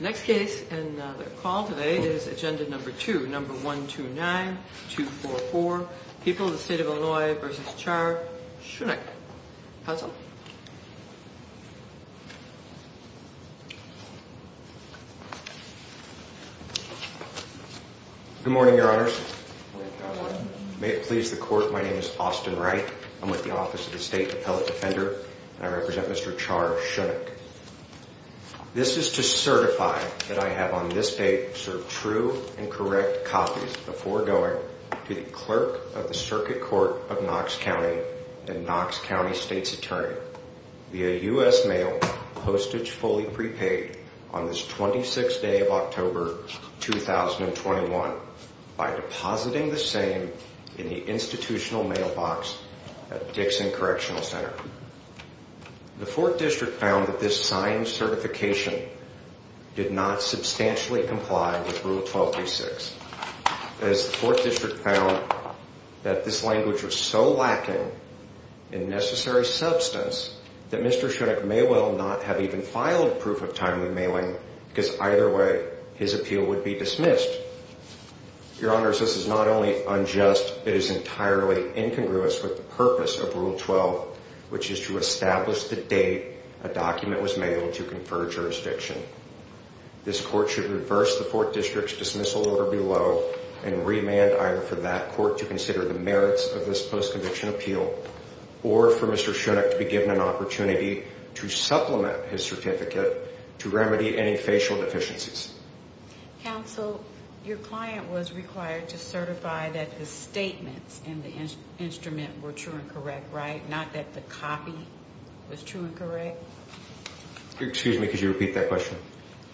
Next case in the call today is agenda number two, number 129244, People of the State of Illinois v. Char Shunick. Counsel. Good morning, Your Honors. May it please the Court, my name is Austin Wright. I'm with the Office of the State Appellate Defender, and I represent Mr. Char Shunick. This is to certify that I have on this date served true and correct copies before going to the Clerk of the Circuit Court of Knox County and Knox County State's Attorney via U.S. Mail postage fully prepaid on this 26th day of October 2021 by depositing the same in the institutional mailbox at Dixon Correctional Center. The Fourth District found that this signed certification did not substantially comply with Rule 1236. As the Fourth District found that this language was so lacking in necessary substance that Mr. Shunick may well not have even filed proof of timely mailing because either way his appeal would be dismissed. Your Honors, this is not only unjust, it is entirely incongruous with the purpose of Rule 12, which is to establish the date a document was mailed to confer jurisdiction. This Court should reverse the Fourth District's dismissal order below and remand either for that Court to consider the merits of this post-conviction appeal or for Mr. Shunick to be given an opportunity to supplement his certificate to remedy any facial deficiencies. Counsel, your client was required to certify that the statements in the instrument were true and correct, right? Not that the copy was true and correct? Excuse me, could you repeat that question?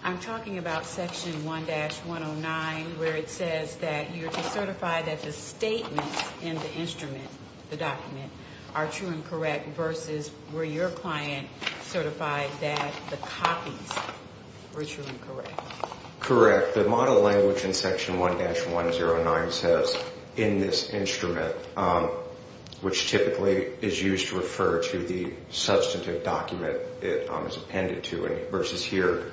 I'm talking about Section 1-109 where it says that you're to certify that the statements in the instrument, the document, are true and correct versus where your client certified that the copies were true and correct. Correct. The model language in Section 1-109 says in this instrument, which typically is used to refer to the substantive document it is appended to versus here,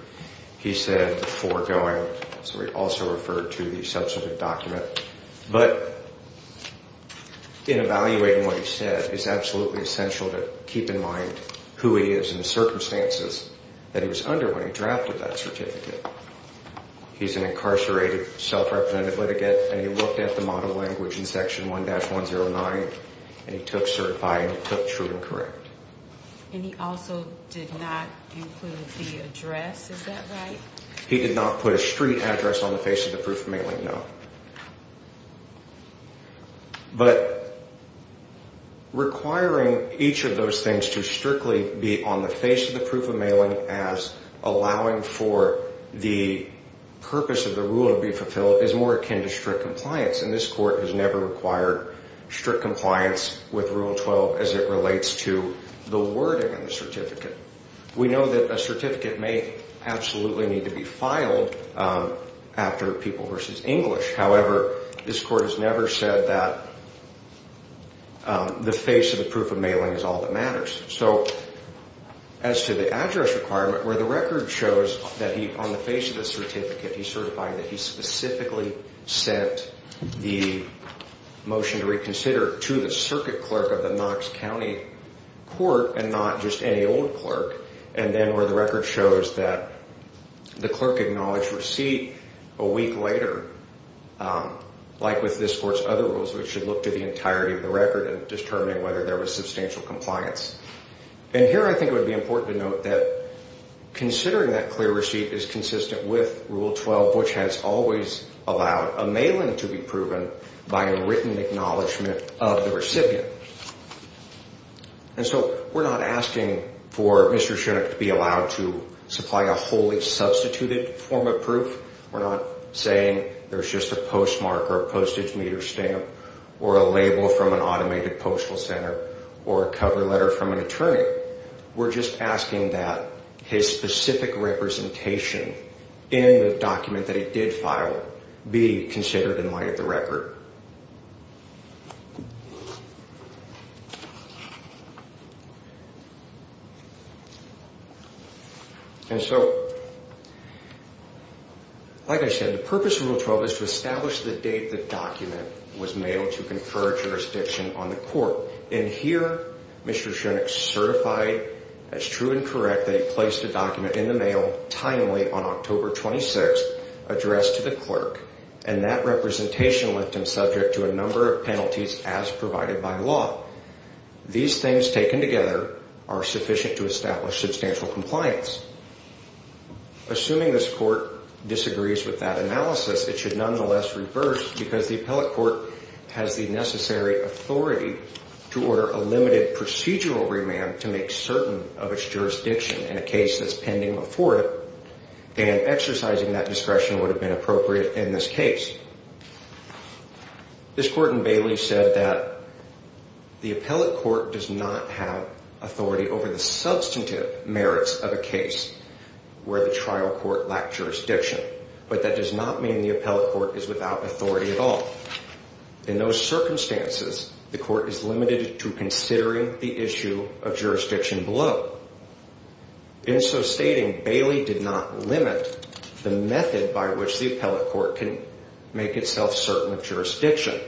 he said foregoing, so he also referred to the substantive document. But in evaluating what he said, it's absolutely essential to keep in mind who he is and the circumstances that he was under when he drafted that certificate. He's an incarcerated, self-represented litigant and he looked at the model language in Section 1-109 and he took certify and he took true and correct. And he also did not include the address, is that right? He did not put a street address on the face of the proof of mailing, no. But requiring each of those things to strictly be on the face of the proof of mailing as allowing for the purpose of the rule to be fulfilled is more akin to strict compliance and this court has never required strict compliance with Rule 12 as it relates to the wording of the certificate. We know that a certificate may absolutely need to be filed after people versus English, however, this court has never said that the face of the proof of mailing is all that matters. So as to the address requirement where the record shows that he on the face of the certificate, he certified that he specifically sent the motion to reconsider to the circuit clerk of the Knox County Court and not just any old clerk. And then where the record shows that the clerk acknowledged receipt a week later, like with this court's other rules, which should look to the entirety of the record and determining whether there was substantial compliance. And here I think it would be important to note that considering that clear receipt is consistent with Rule 12, which has always allowed a mailing to be proven by a written acknowledgement of the recipient. And so we're not asking for Mr. Shinnock to be allowed to supply a wholly substituted form of proof. We're not saying there's just a postmark or postage meter stamp or a label from an automated postal center or a cover letter from an attorney. We're just asking that his specific representation in the document that he did file be considered in light of the record. And so, like I said, the purpose of Rule 12 is to establish the date the document was mailed to confer jurisdiction on the court. And here, Mr. Shinnock certified as true and correct that he placed a document in the mail timely on October 26th addressed to the clerk. And that representation left him subject to a number of penalties as provided by law. These things taken together are sufficient to establish substantial compliance. Assuming this court disagrees with that analysis, it should nonetheless reverse because the appellate court has the necessary authority to order a limited procedural remand to make certain of its jurisdiction in a case that's pending before it. And exercising that discretion would have been appropriate in this case. This court in Bailey said that the appellate court does not have authority over the substantive merits of a case where the trial court lacked jurisdiction. But that does not mean the appellate court is without authority at all. In those circumstances, the court is limited to considering the issue of jurisdiction below. In so stating, Bailey did not limit the method by which the appellate court can make itself certain of jurisdiction.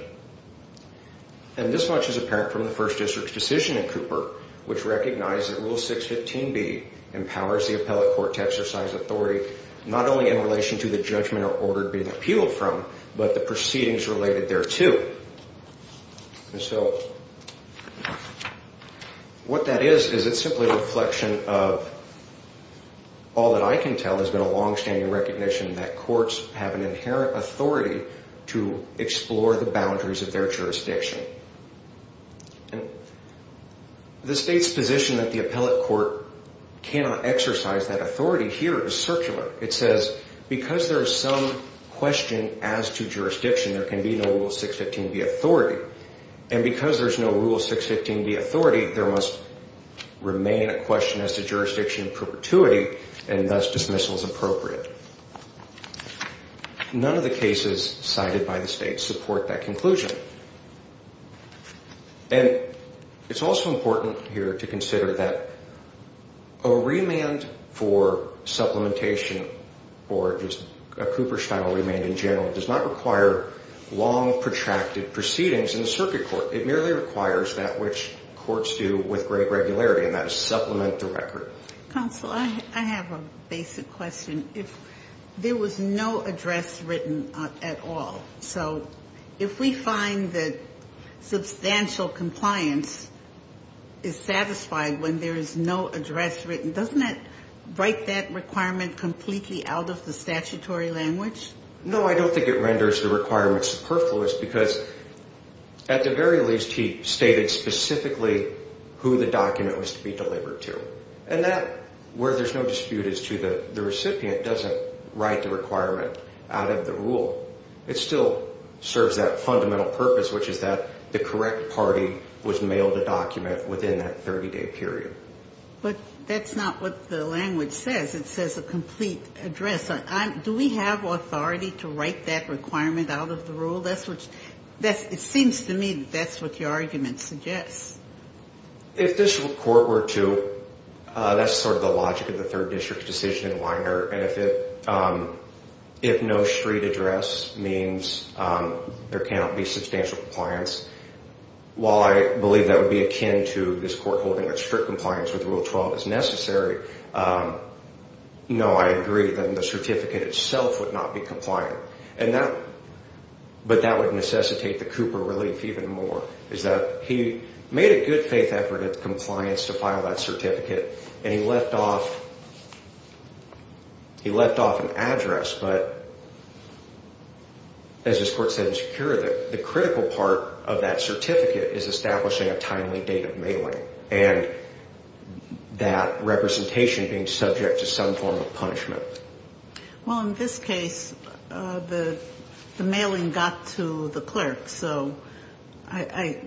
And this much is apparent from the First District's decision in Cooper, which recognized that Rule 615B empowers the appellate court to exercise authority not only in relation to the judgment or order being appealed from, but the proceedings related thereto. And so what that is is it's simply a reflection of all that I can tell has been a longstanding recognition that courts have an inherent authority to explore the boundaries of their jurisdiction. The state's position that the appellate court cannot exercise that authority here is circular. It says because there is some question as to jurisdiction, there can be no Rule 615B authority. And because there's no Rule 615B authority, there must remain a question as to jurisdiction perpetuity, and thus dismissal is appropriate. None of the cases cited by the state support that conclusion. And it's also important here to consider that a remand for supplementation or just a Cooper-style remand in general does not require long, protracted proceedings in the circuit court. It merely requires that which courts do with great regularity, and that is supplement the record. Counsel, I have a basic question. If there was no address written at all, so if we find that substantial compliance is satisfied when there is no address written, doesn't that break that requirement completely out of the statutory language? No, I don't think it renders the requirement superfluous because at the very least, he stated specifically who the document was to be delivered to. And that, where there's no dispute as to the recipient, doesn't write the requirement out of the rule. It still serves that fundamental purpose, which is that the correct party was mailed a document within that 30-day period. But that's not what the language says. It says a complete address. Do we have authority to write that requirement out of the rule? It seems to me that that's what your argument suggests. If this court were to, that's sort of the logic of the third district decision in Weiner, and if no street address means there cannot be substantial compliance, while I believe that would be akin to this court holding that strict compliance with Rule 12 is necessary, no, I agree that the certificate itself would not be compliant. And that, but that would necessitate the Cooper relief even more, is that he made a good faith effort at compliance to file that certificate, and he left off, he left off an address, but as this court said in Secura, the critical part of that certificate is establishing a timely date of mailing and that representation being subject to some form of punishment. Well, in this case, the mailing got to the clerk. So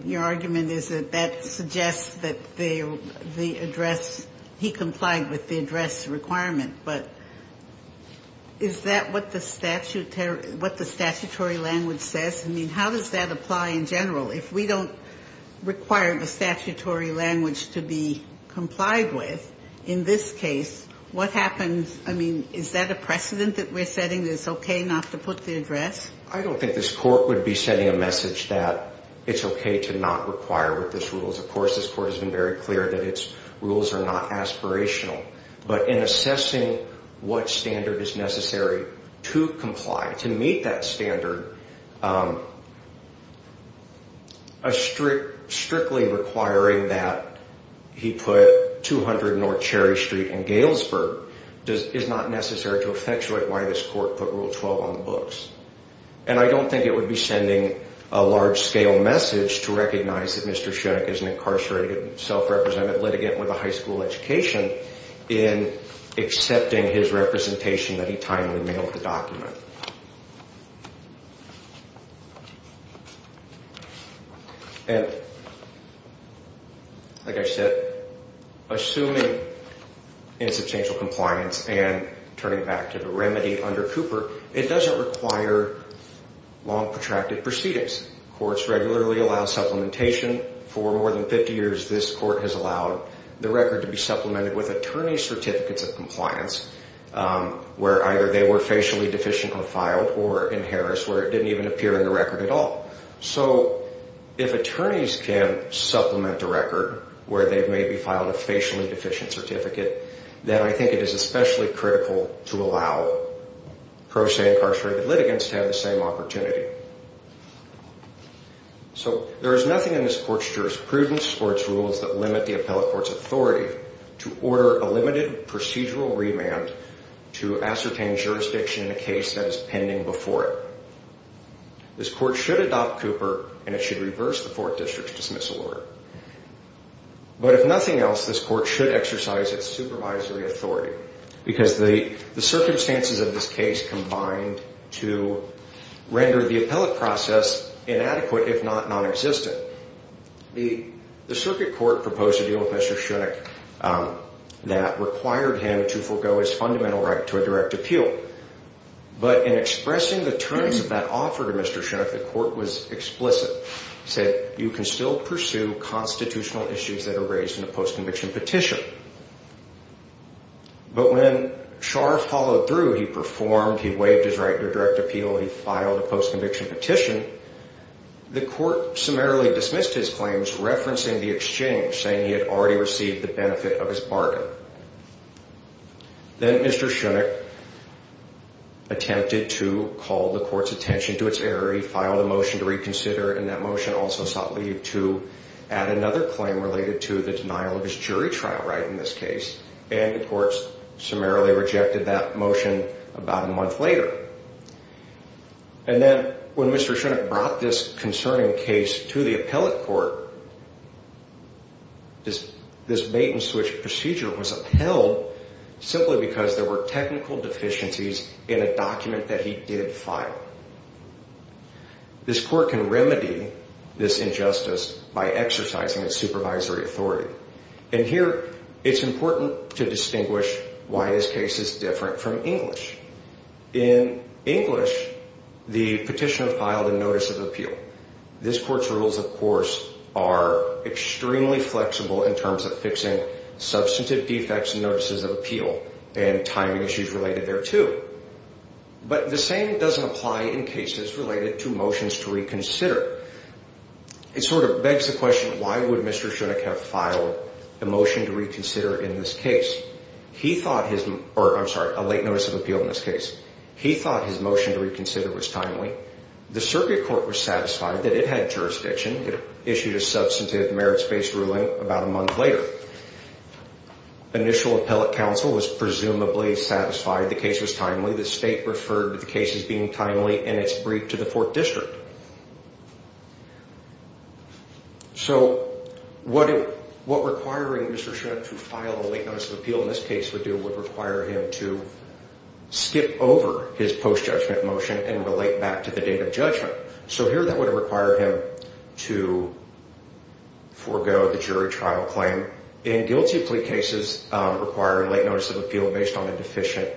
your argument is that that suggests that the address, he complied with the address requirement. But is that what the statutory language says? I mean, how does that apply in general? If we don't require the statutory language to be complied with, in this case, what happens? I mean, is that a precedent that we're setting that it's okay not to put the address? I don't think this court would be sending a message that it's okay to not require what this rule is. Of course, this court has been very clear that its rules are not aspirational. But in assessing what standard is necessary to comply, to meet that standard, strictly requiring that he put 200 North Cherry Street and Galesburg is not necessary to effectuate why this court put Rule 12 on the books. And I don't think it would be sending a large-scale message to recognize that Mr. Schoenig is an incarcerated, self-represented litigant with a high school education in accepting his representation that he timely mailed the document. And like I said, assuming insubstantial compliance and turning back to the remedy under Cooper, it doesn't require long, protracted proceedings. Courts regularly allow supplementation. For more than 50 years, this court has allowed the record to be supplemented with attorney certificates of compliance where either they were facially deficiently filed or in Harris where it didn't even appear in the record at all. So if attorneys can supplement a record where they've maybe filed a facially deficient certificate, then I think it is especially critical to allow pro se incarcerated litigants to have the same opportunity. So there is nothing in this court's jurisprudence or its rules that limit the appellate court's authority to order a limited procedural remand to ascertain jurisdiction in a case that is pending before it. This court should adopt Cooper, and it should reverse the 4th District's dismissal order. But if nothing else, this court should exercise its supervisory authority because the circumstances of this case combined to render the appellate process inadequate if not nonexistent. The circuit court proposed a deal with Mr. Schoenig that required him to forego his fundamental right to a direct appeal. But in expressing the terms of that offer to Mr. Schoenig, the court was explicit. It said you can still pursue constitutional issues that are raised in a post-conviction petition. But when Schar followed through, he performed, he waived his right to a direct appeal, he filed a post-conviction petition, the court summarily dismissed his claims referencing the exchange, saying he had already received the benefit of his bargain. Then Mr. Schoenig attempted to call the court's attention to its error. He filed a motion to reconsider, and that motion also sought leave to add another claim related to the denial of his jury trial right in this case. And the court summarily rejected that motion about a month later. And then when Mr. Schoenig brought this concerning case to the appellate court, this bait-and-switch procedure was upheld simply because there were technical deficiencies in a document that he did file. This court can remedy this injustice by exercising its supervisory authority. And here it's important to distinguish why this case is different from English. In English, the petitioner filed a notice of appeal. This court's rules, of course, are extremely flexible in terms of fixing substantive defects and notices of appeal and timing issues related thereto. But the same doesn't apply in cases related to motions to reconsider. It sort of begs the question, why would Mr. Schoenig have filed a motion to reconsider in this case? I'm sorry, a late notice of appeal in this case. He thought his motion to reconsider was timely. The circuit court was satisfied that it had jurisdiction. It issued a substantive merits-based ruling about a month later. Initial appellate counsel was presumably satisfied the case was timely. The state referred to the case as being timely in its brief to the 4th District. So what requiring Mr. Schoenig to file a late notice of appeal in this case would do would require him to skip over his post-judgment motion and relate back to the date of judgment. So here that would have required him to forego the jury trial claim. In guilty plea cases, requiring late notice of appeal based on a deficient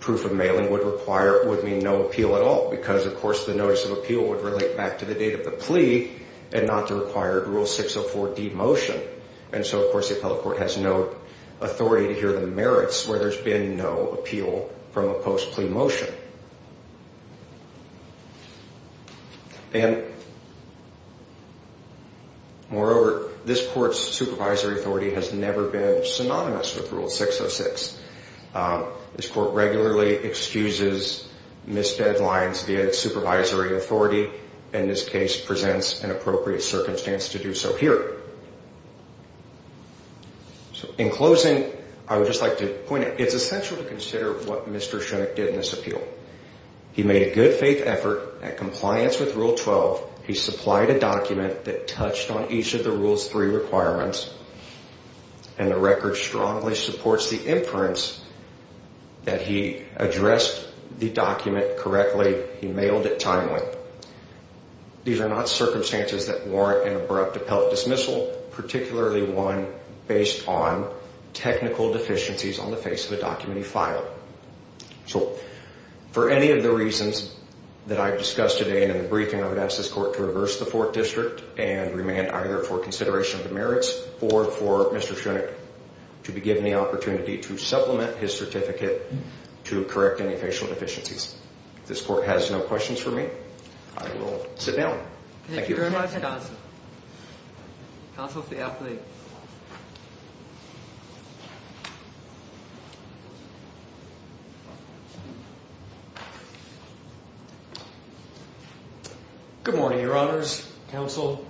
proof of mailing would mean no appeal at all. Because, of course, the notice of appeal would relate back to the date of the plea and not the required Rule 604D motion. And so, of course, the appellate court has no authority to hear the merits where there's been no appeal from a post-plea motion. And moreover, this court's supervisory authority has never been synonymous with Rule 606. This court regularly excuses missed deadlines via its supervisory authority, and this case presents an appropriate circumstance to do so here. In closing, I would just like to point out, it's essential to consider what Mr. Schoenig did in this appeal. He made a good faith effort at compliance with Rule 12. He supplied a document that touched on each of the Rule's three requirements, and the record strongly supports the inference that he addressed the document correctly. He mailed it timely. These are not circumstances that warrant an abrupt appellate dismissal, particularly one based on technical deficiencies on the face of a document he filed. So, for any of the reasons that I've discussed today in the briefing, I would ask this court to reverse the fourth district and remand either for consideration of the merits or for Mr. Schoenig to be given the opportunity to supplement his certificate to correct any facial deficiencies. If this court has no questions for me, I will sit down. Thank you. Counsel for the appellate. Good morning, your honors, counsel.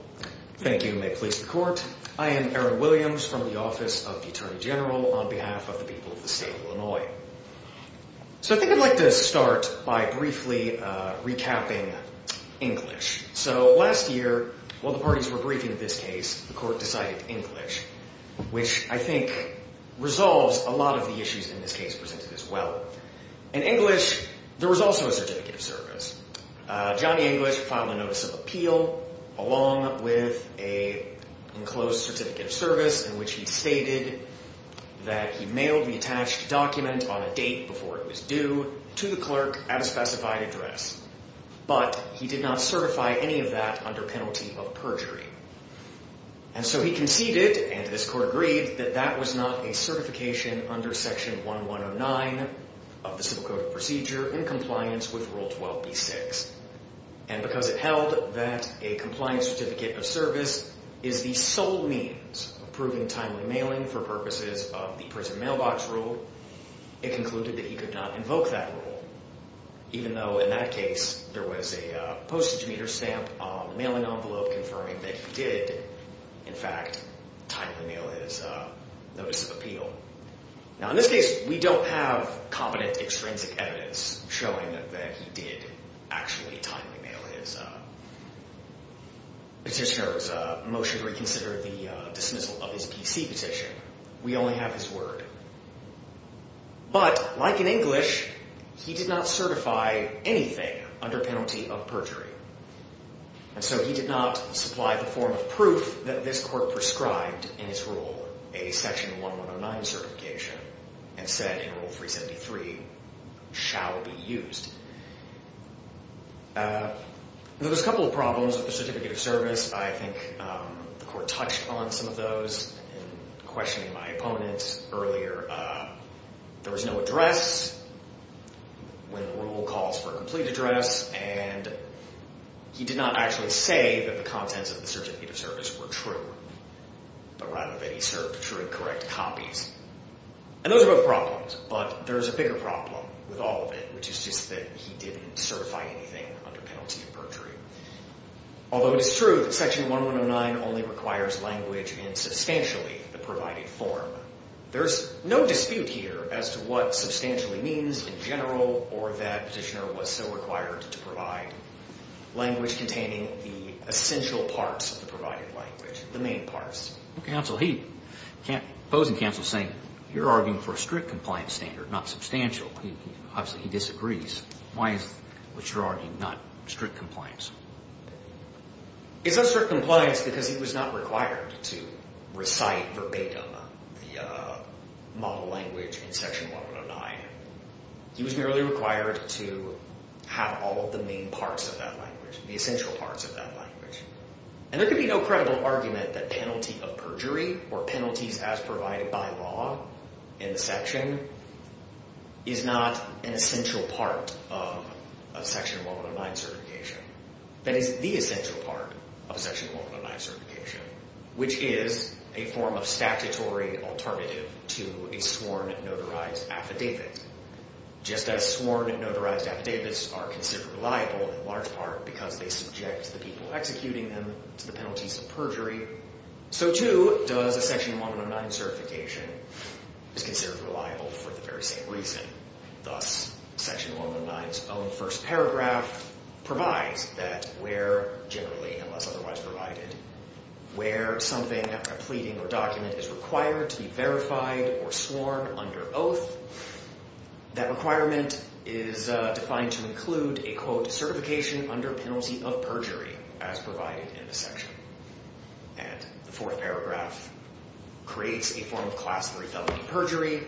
Thank you, and may it please the court. I am Aaron Williams from the Office of the Attorney General on behalf of the people of the state of Illinois. So, I think I'd like to start by briefly recapping English. So, last year, while the parties were briefing this case, the court decided English, which I think resolves a lot of the issues in this case presented as well. In English, there was also a certificate of service. Johnny English filed a notice of appeal along with an enclosed certificate of service in which he stated that he mailed the attached document on a date before it was due to the clerk at a specified address. But he did not certify any of that under penalty of perjury. And so he conceded, and this court agreed, that that was not a certification under Section 1109 of the Civil Code of Procedure in compliance with Rule 12b-6. And because it held that a compliance certificate of service is the sole means of proving timely mailing for purposes of the prison mailbox rule, it concluded that he could not invoke that rule. Even though, in that case, there was a postage meter stamp mailing envelope confirming that he did, in fact, timely mail his notice of appeal. Now, in this case, we don't have competent extrinsic evidence showing that he did actually timely mail his petitioner's motion to reconsider the dismissal of his PC petition. We only have his word. But, like in English, he did not certify anything under penalty of perjury. And so he did not supply the form of proof that this court prescribed in its rule, a Section 1109 certification, and said in Rule 373, shall be used. Now, there's a couple of problems with the certificate of service. I think the court touched on some of those in questioning my opponents earlier. There was no address when the rule calls for a complete address, and he did not actually say that the contents of the certificate of service were true, but rather that he served true and correct copies. And those are both problems, but there's a bigger problem with all of it, which is just that he didn't certify anything under penalty of perjury. Although it is true that Section 1109 only requires language in substantially the provided form, there's no dispute here as to what substantially means in general or that petitioner was so required to provide. Language containing the essential parts of the provided language, the main parts. Counsel, he – the opposing counsel is saying you're arguing for a strict compliance standard, not substantial. Obviously, he disagrees. Why is what you're arguing not strict compliance? It's not strict compliance because he was not required to recite verbatim the model language in Section 1109. He was merely required to have all of the main parts of that language, the essential parts of that language. And there can be no credible argument that penalty of perjury or penalties as provided by law in the section is not an essential part of Section 1109 certification. That is the essential part of Section 1109 certification, which is a form of statutory alternative to a sworn notarized affidavit. Just as sworn and notarized affidavits are considered reliable in large part because they subject the people executing them to the penalties of perjury, so too does a Section 1109 certification is considered reliable for the very same reason. Thus, Section 1109's own first paragraph provides that where – generally, unless otherwise provided – where something, a pleading or document is required to be verified or sworn under oath, that requirement is defined to include a, quote, certification under penalty of perjury as provided in the section. And the fourth paragraph creates a form of Class III felony perjury.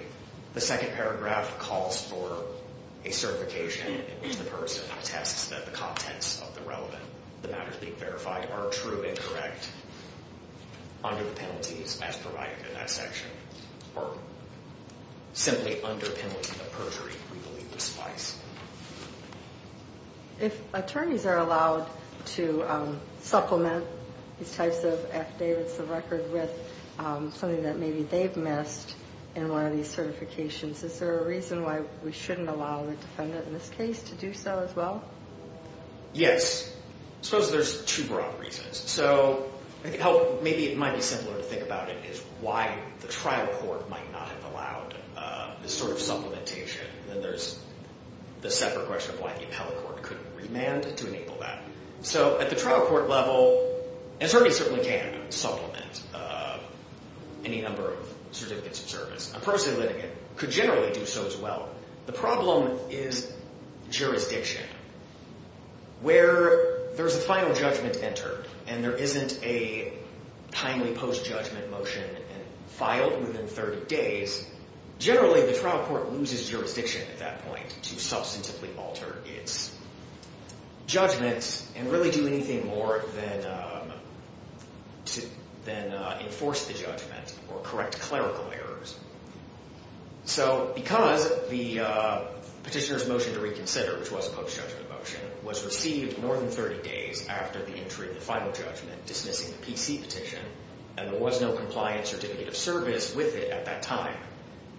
The second paragraph calls for a certification in which the person attests that the contents of the relevant – the matters being verified are true and correct under the penalties as provided in that section, or simply under penalty of perjury, we believe to suffice. If attorneys are allowed to supplement these types of affidavits of record with something that maybe they've missed in one of these certifications, is there a reason why we shouldn't allow the defendant in this case to do so as well? Yes. I suppose there's two broad reasons. So maybe it might be simpler to think about it is why the trial court might not have allowed this sort of supplementation. Then there's the separate question of why the appellate court couldn't remand to enable that. So at the trial court level, an attorney certainly can supplement any number of certificates of service. A personal litigant could generally do so as well. The problem is jurisdiction. Where there's a final judgment entered and there isn't a timely post-judgment motion filed within 30 days, generally the trial court loses jurisdiction at that point to substantively alter its judgments and really do anything more than enforce the judgment or correct clerical errors. So because the petitioner's motion to reconsider, which was a post-judgment motion, was received more than 30 days after the entry of the final judgment dismissing the PC petition, and there was no compliance certificate of service with it at that time,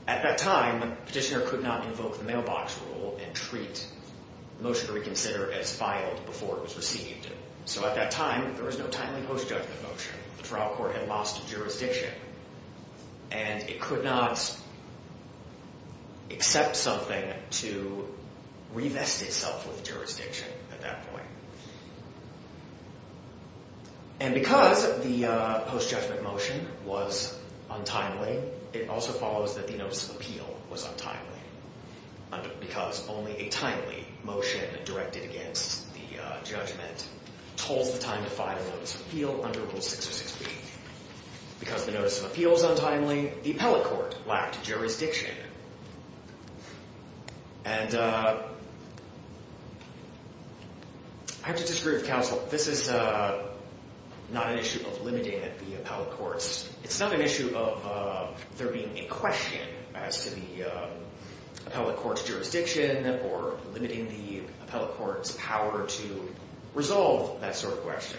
at that time, the petitioner could not invoke the mailbox rule and treat the motion to reconsider as filed before it was received. So at that time, there was no timely post-judgment motion. The trial court had lost jurisdiction. And it could not accept something to revest itself with jurisdiction at that point. And because the post-judgment motion was untimely, it also follows that the notice of appeal was untimely. Because only a timely motion directed against the judgment holds the time to file a notice of appeal under Rule 606B. Because the notice of appeal is untimely, the appellate court lacked jurisdiction. And I have to disagree with counsel. This is not an issue of limiting the appellate courts. It's not an issue of there being a question as to the appellate court's jurisdiction or limiting the appellate court's power to resolve that sort of question.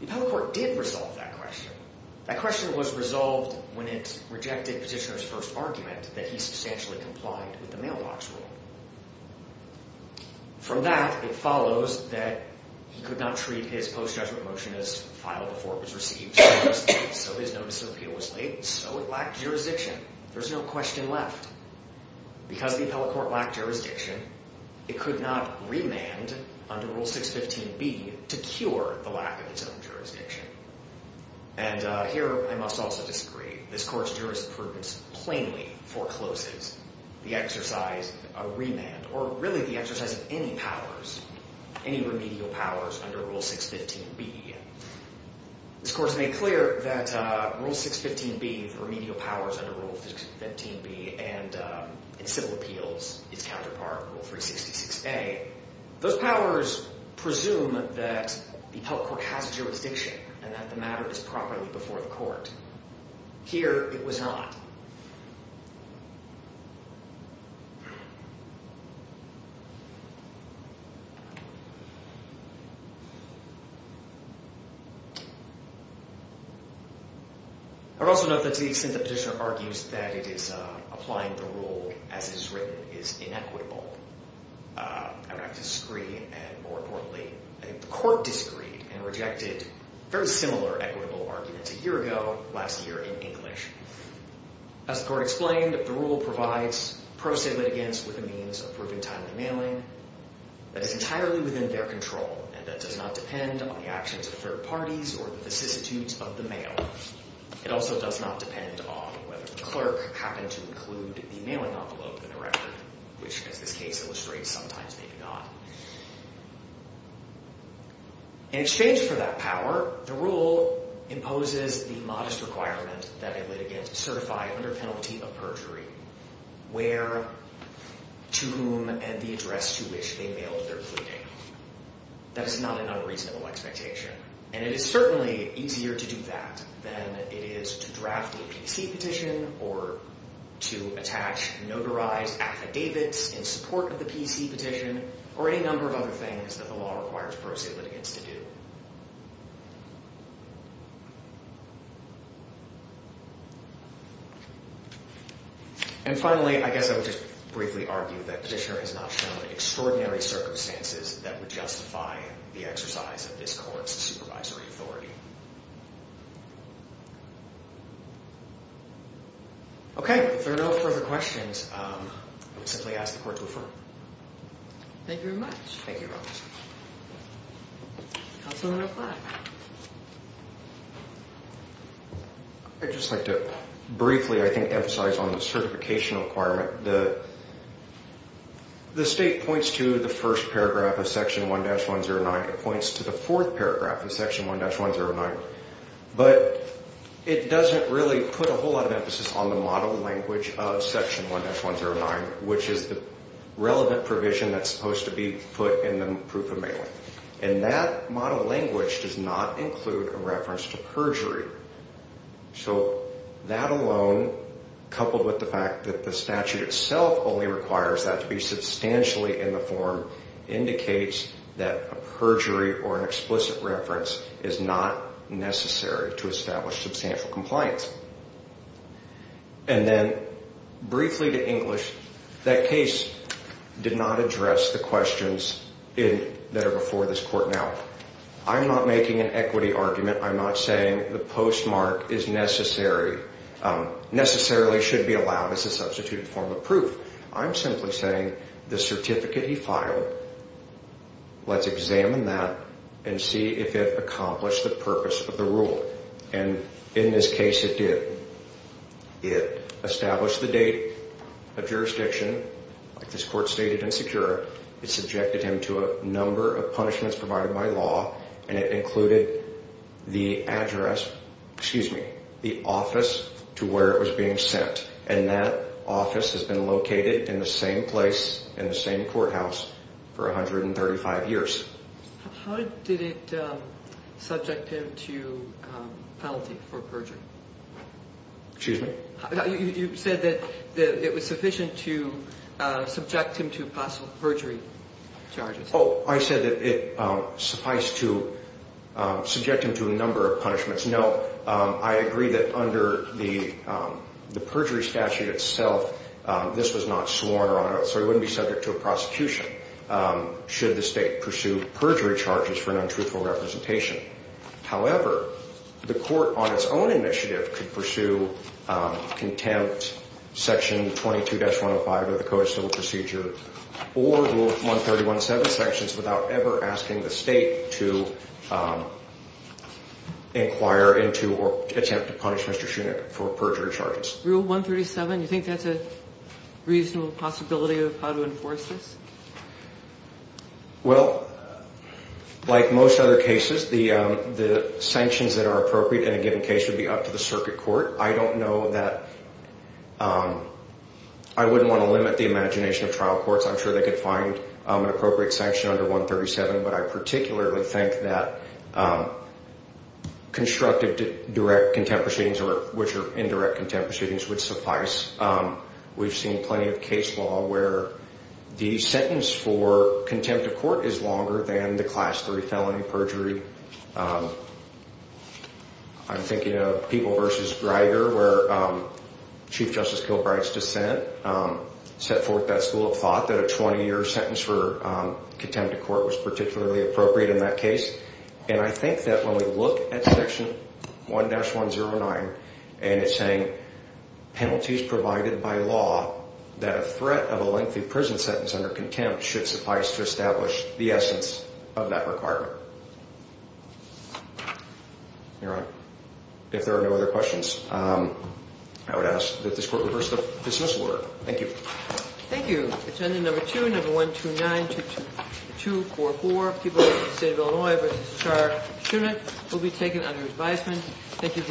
The appellate court did resolve that question. That question was resolved when it rejected petitioner's first argument that he substantially complied with the mailbox rule. From that, it follows that he could not treat his post-judgment motion as filed before it was received. So his notice of appeal was late. So it lacked jurisdiction. There's no question left. Because the appellate court lacked jurisdiction, it could not remand under Rule 615B to cure the lack of its own jurisdiction. And here I must also disagree. This Court's jurisprudence plainly forecloses the exercise of remand or really the exercise of any powers, any remedial powers under Rule 615B. This Court has made clear that Rule 615B, the remedial powers under Rule 615B and civil appeals, its counterpart, Rule 366A, those powers presume that the appellate court has jurisdiction and that the matter is properly before the court. Here, it was not. I would also note that to the extent that petitioner argues that it is applying the rule as it is written is inequitable. I would have to disagree. And more importantly, the Court disagreed and rejected very similar equitable arguments a year ago last year in English. As the Court explained, the rule provides pro se litigants with a means of proving time in the mailing that is entirely within their control and that does not depend on the actions of third parties or the vicissitudes of the mail. It also does not depend on whether the clerk happened to include the mailing envelope in the record, which, as this case illustrates, sometimes may be not. In exchange for that power, the rule imposes the modest requirement that a litigant certify under penalty of perjury where, to whom, and the address to which they mailed their pleading. That is not an unreasonable expectation. And it is certainly easier to do that than it is to draft a PC petition or to attach notarized affidavits in support of the PC petition or any number of other things that the law requires pro se litigants to do. And finally, I guess I would just briefly argue that Petitioner has not shown extraordinary circumstances that would justify the exercise of this Court's supervisory authority. Okay, if there are no further questions, I would simply ask the Court to affirm. Thank you very much. Thank you, Your Honor. Counsel in reply. I'd just like to briefly, I think, emphasize on the certification requirement. The State points to the first paragraph of Section 1-109. It points to the fourth paragraph of Section 1-109. But it doesn't really put a whole lot of emphasis on the model language of Section 1-109, which is the relevant provision that's supposed to be put in the proof of mailing. And that model language does not include a reference to perjury. So that alone, coupled with the fact that the statute itself only requires that to be substantially in the form, indicates that a perjury or an explicit reference is not necessary to establish substantial compliance. And then, briefly to English, that case did not address the questions that are before this Court now. I'm not making an equity argument. I'm not saying the postmark is necessary, necessarily should be allowed as a substituted form of proof. I'm simply saying the certificate he filed, let's examine that and see if it accomplished the purpose of the rule. And in this case, it did. It established the date of jurisdiction. This Court stated insecure. It subjected him to a number of punishments provided by law. And it included the address, excuse me, the office to where it was being sent. And that office has been located in the same place, in the same courthouse, for 135 years. How did it subject him to penalty for perjury? Excuse me? You said that it was sufficient to subject him to possible perjury charges. Oh, I said that it sufficed to subject him to a number of punishments. No, I agree that under the perjury statute itself, this was not sworn on. So he wouldn't be subject to a prosecution should the State pursue perjury charges for an untruthful representation. However, the Court on its own initiative could pursue contempt section 22-105 of the Code of Civil Procedure or Rule 131-7 sections without ever asking the State to inquire into or attempt to punish Mr. Shunick for perjury charges. Rule 137, you think that's a reasonable possibility of how to enforce this? Well, like most other cases, the sanctions that are appropriate in a given case would be up to the circuit court. I don't know that – I wouldn't want to limit the imagination of trial courts. I'm sure they could find an appropriate sanction under 137, but I particularly think that constructive direct contempt proceedings, which are indirect contempt proceedings, would suffice. We've seen plenty of case law where the sentence for contempt of court is longer than the Class III felony perjury. I'm thinking of People v. Greiger where Chief Justice Kilbright's dissent set forth that school of thought that a 20-year sentence for contempt of court was particularly appropriate in that case. And I think that when we look at Section 1-109 and it's saying penalties provided by law that a threat of a lengthy prison sentence under contempt should suffice to establish the essence of that requirement. Your Honor, if there are no other questions, I would ask that this Court reverse the dismissal order. Thank you. Thank you. Attendant No. 2, No. 1292244, People v. State of Illinois v. Char Schument, will be taken under advisement. Thank you very much.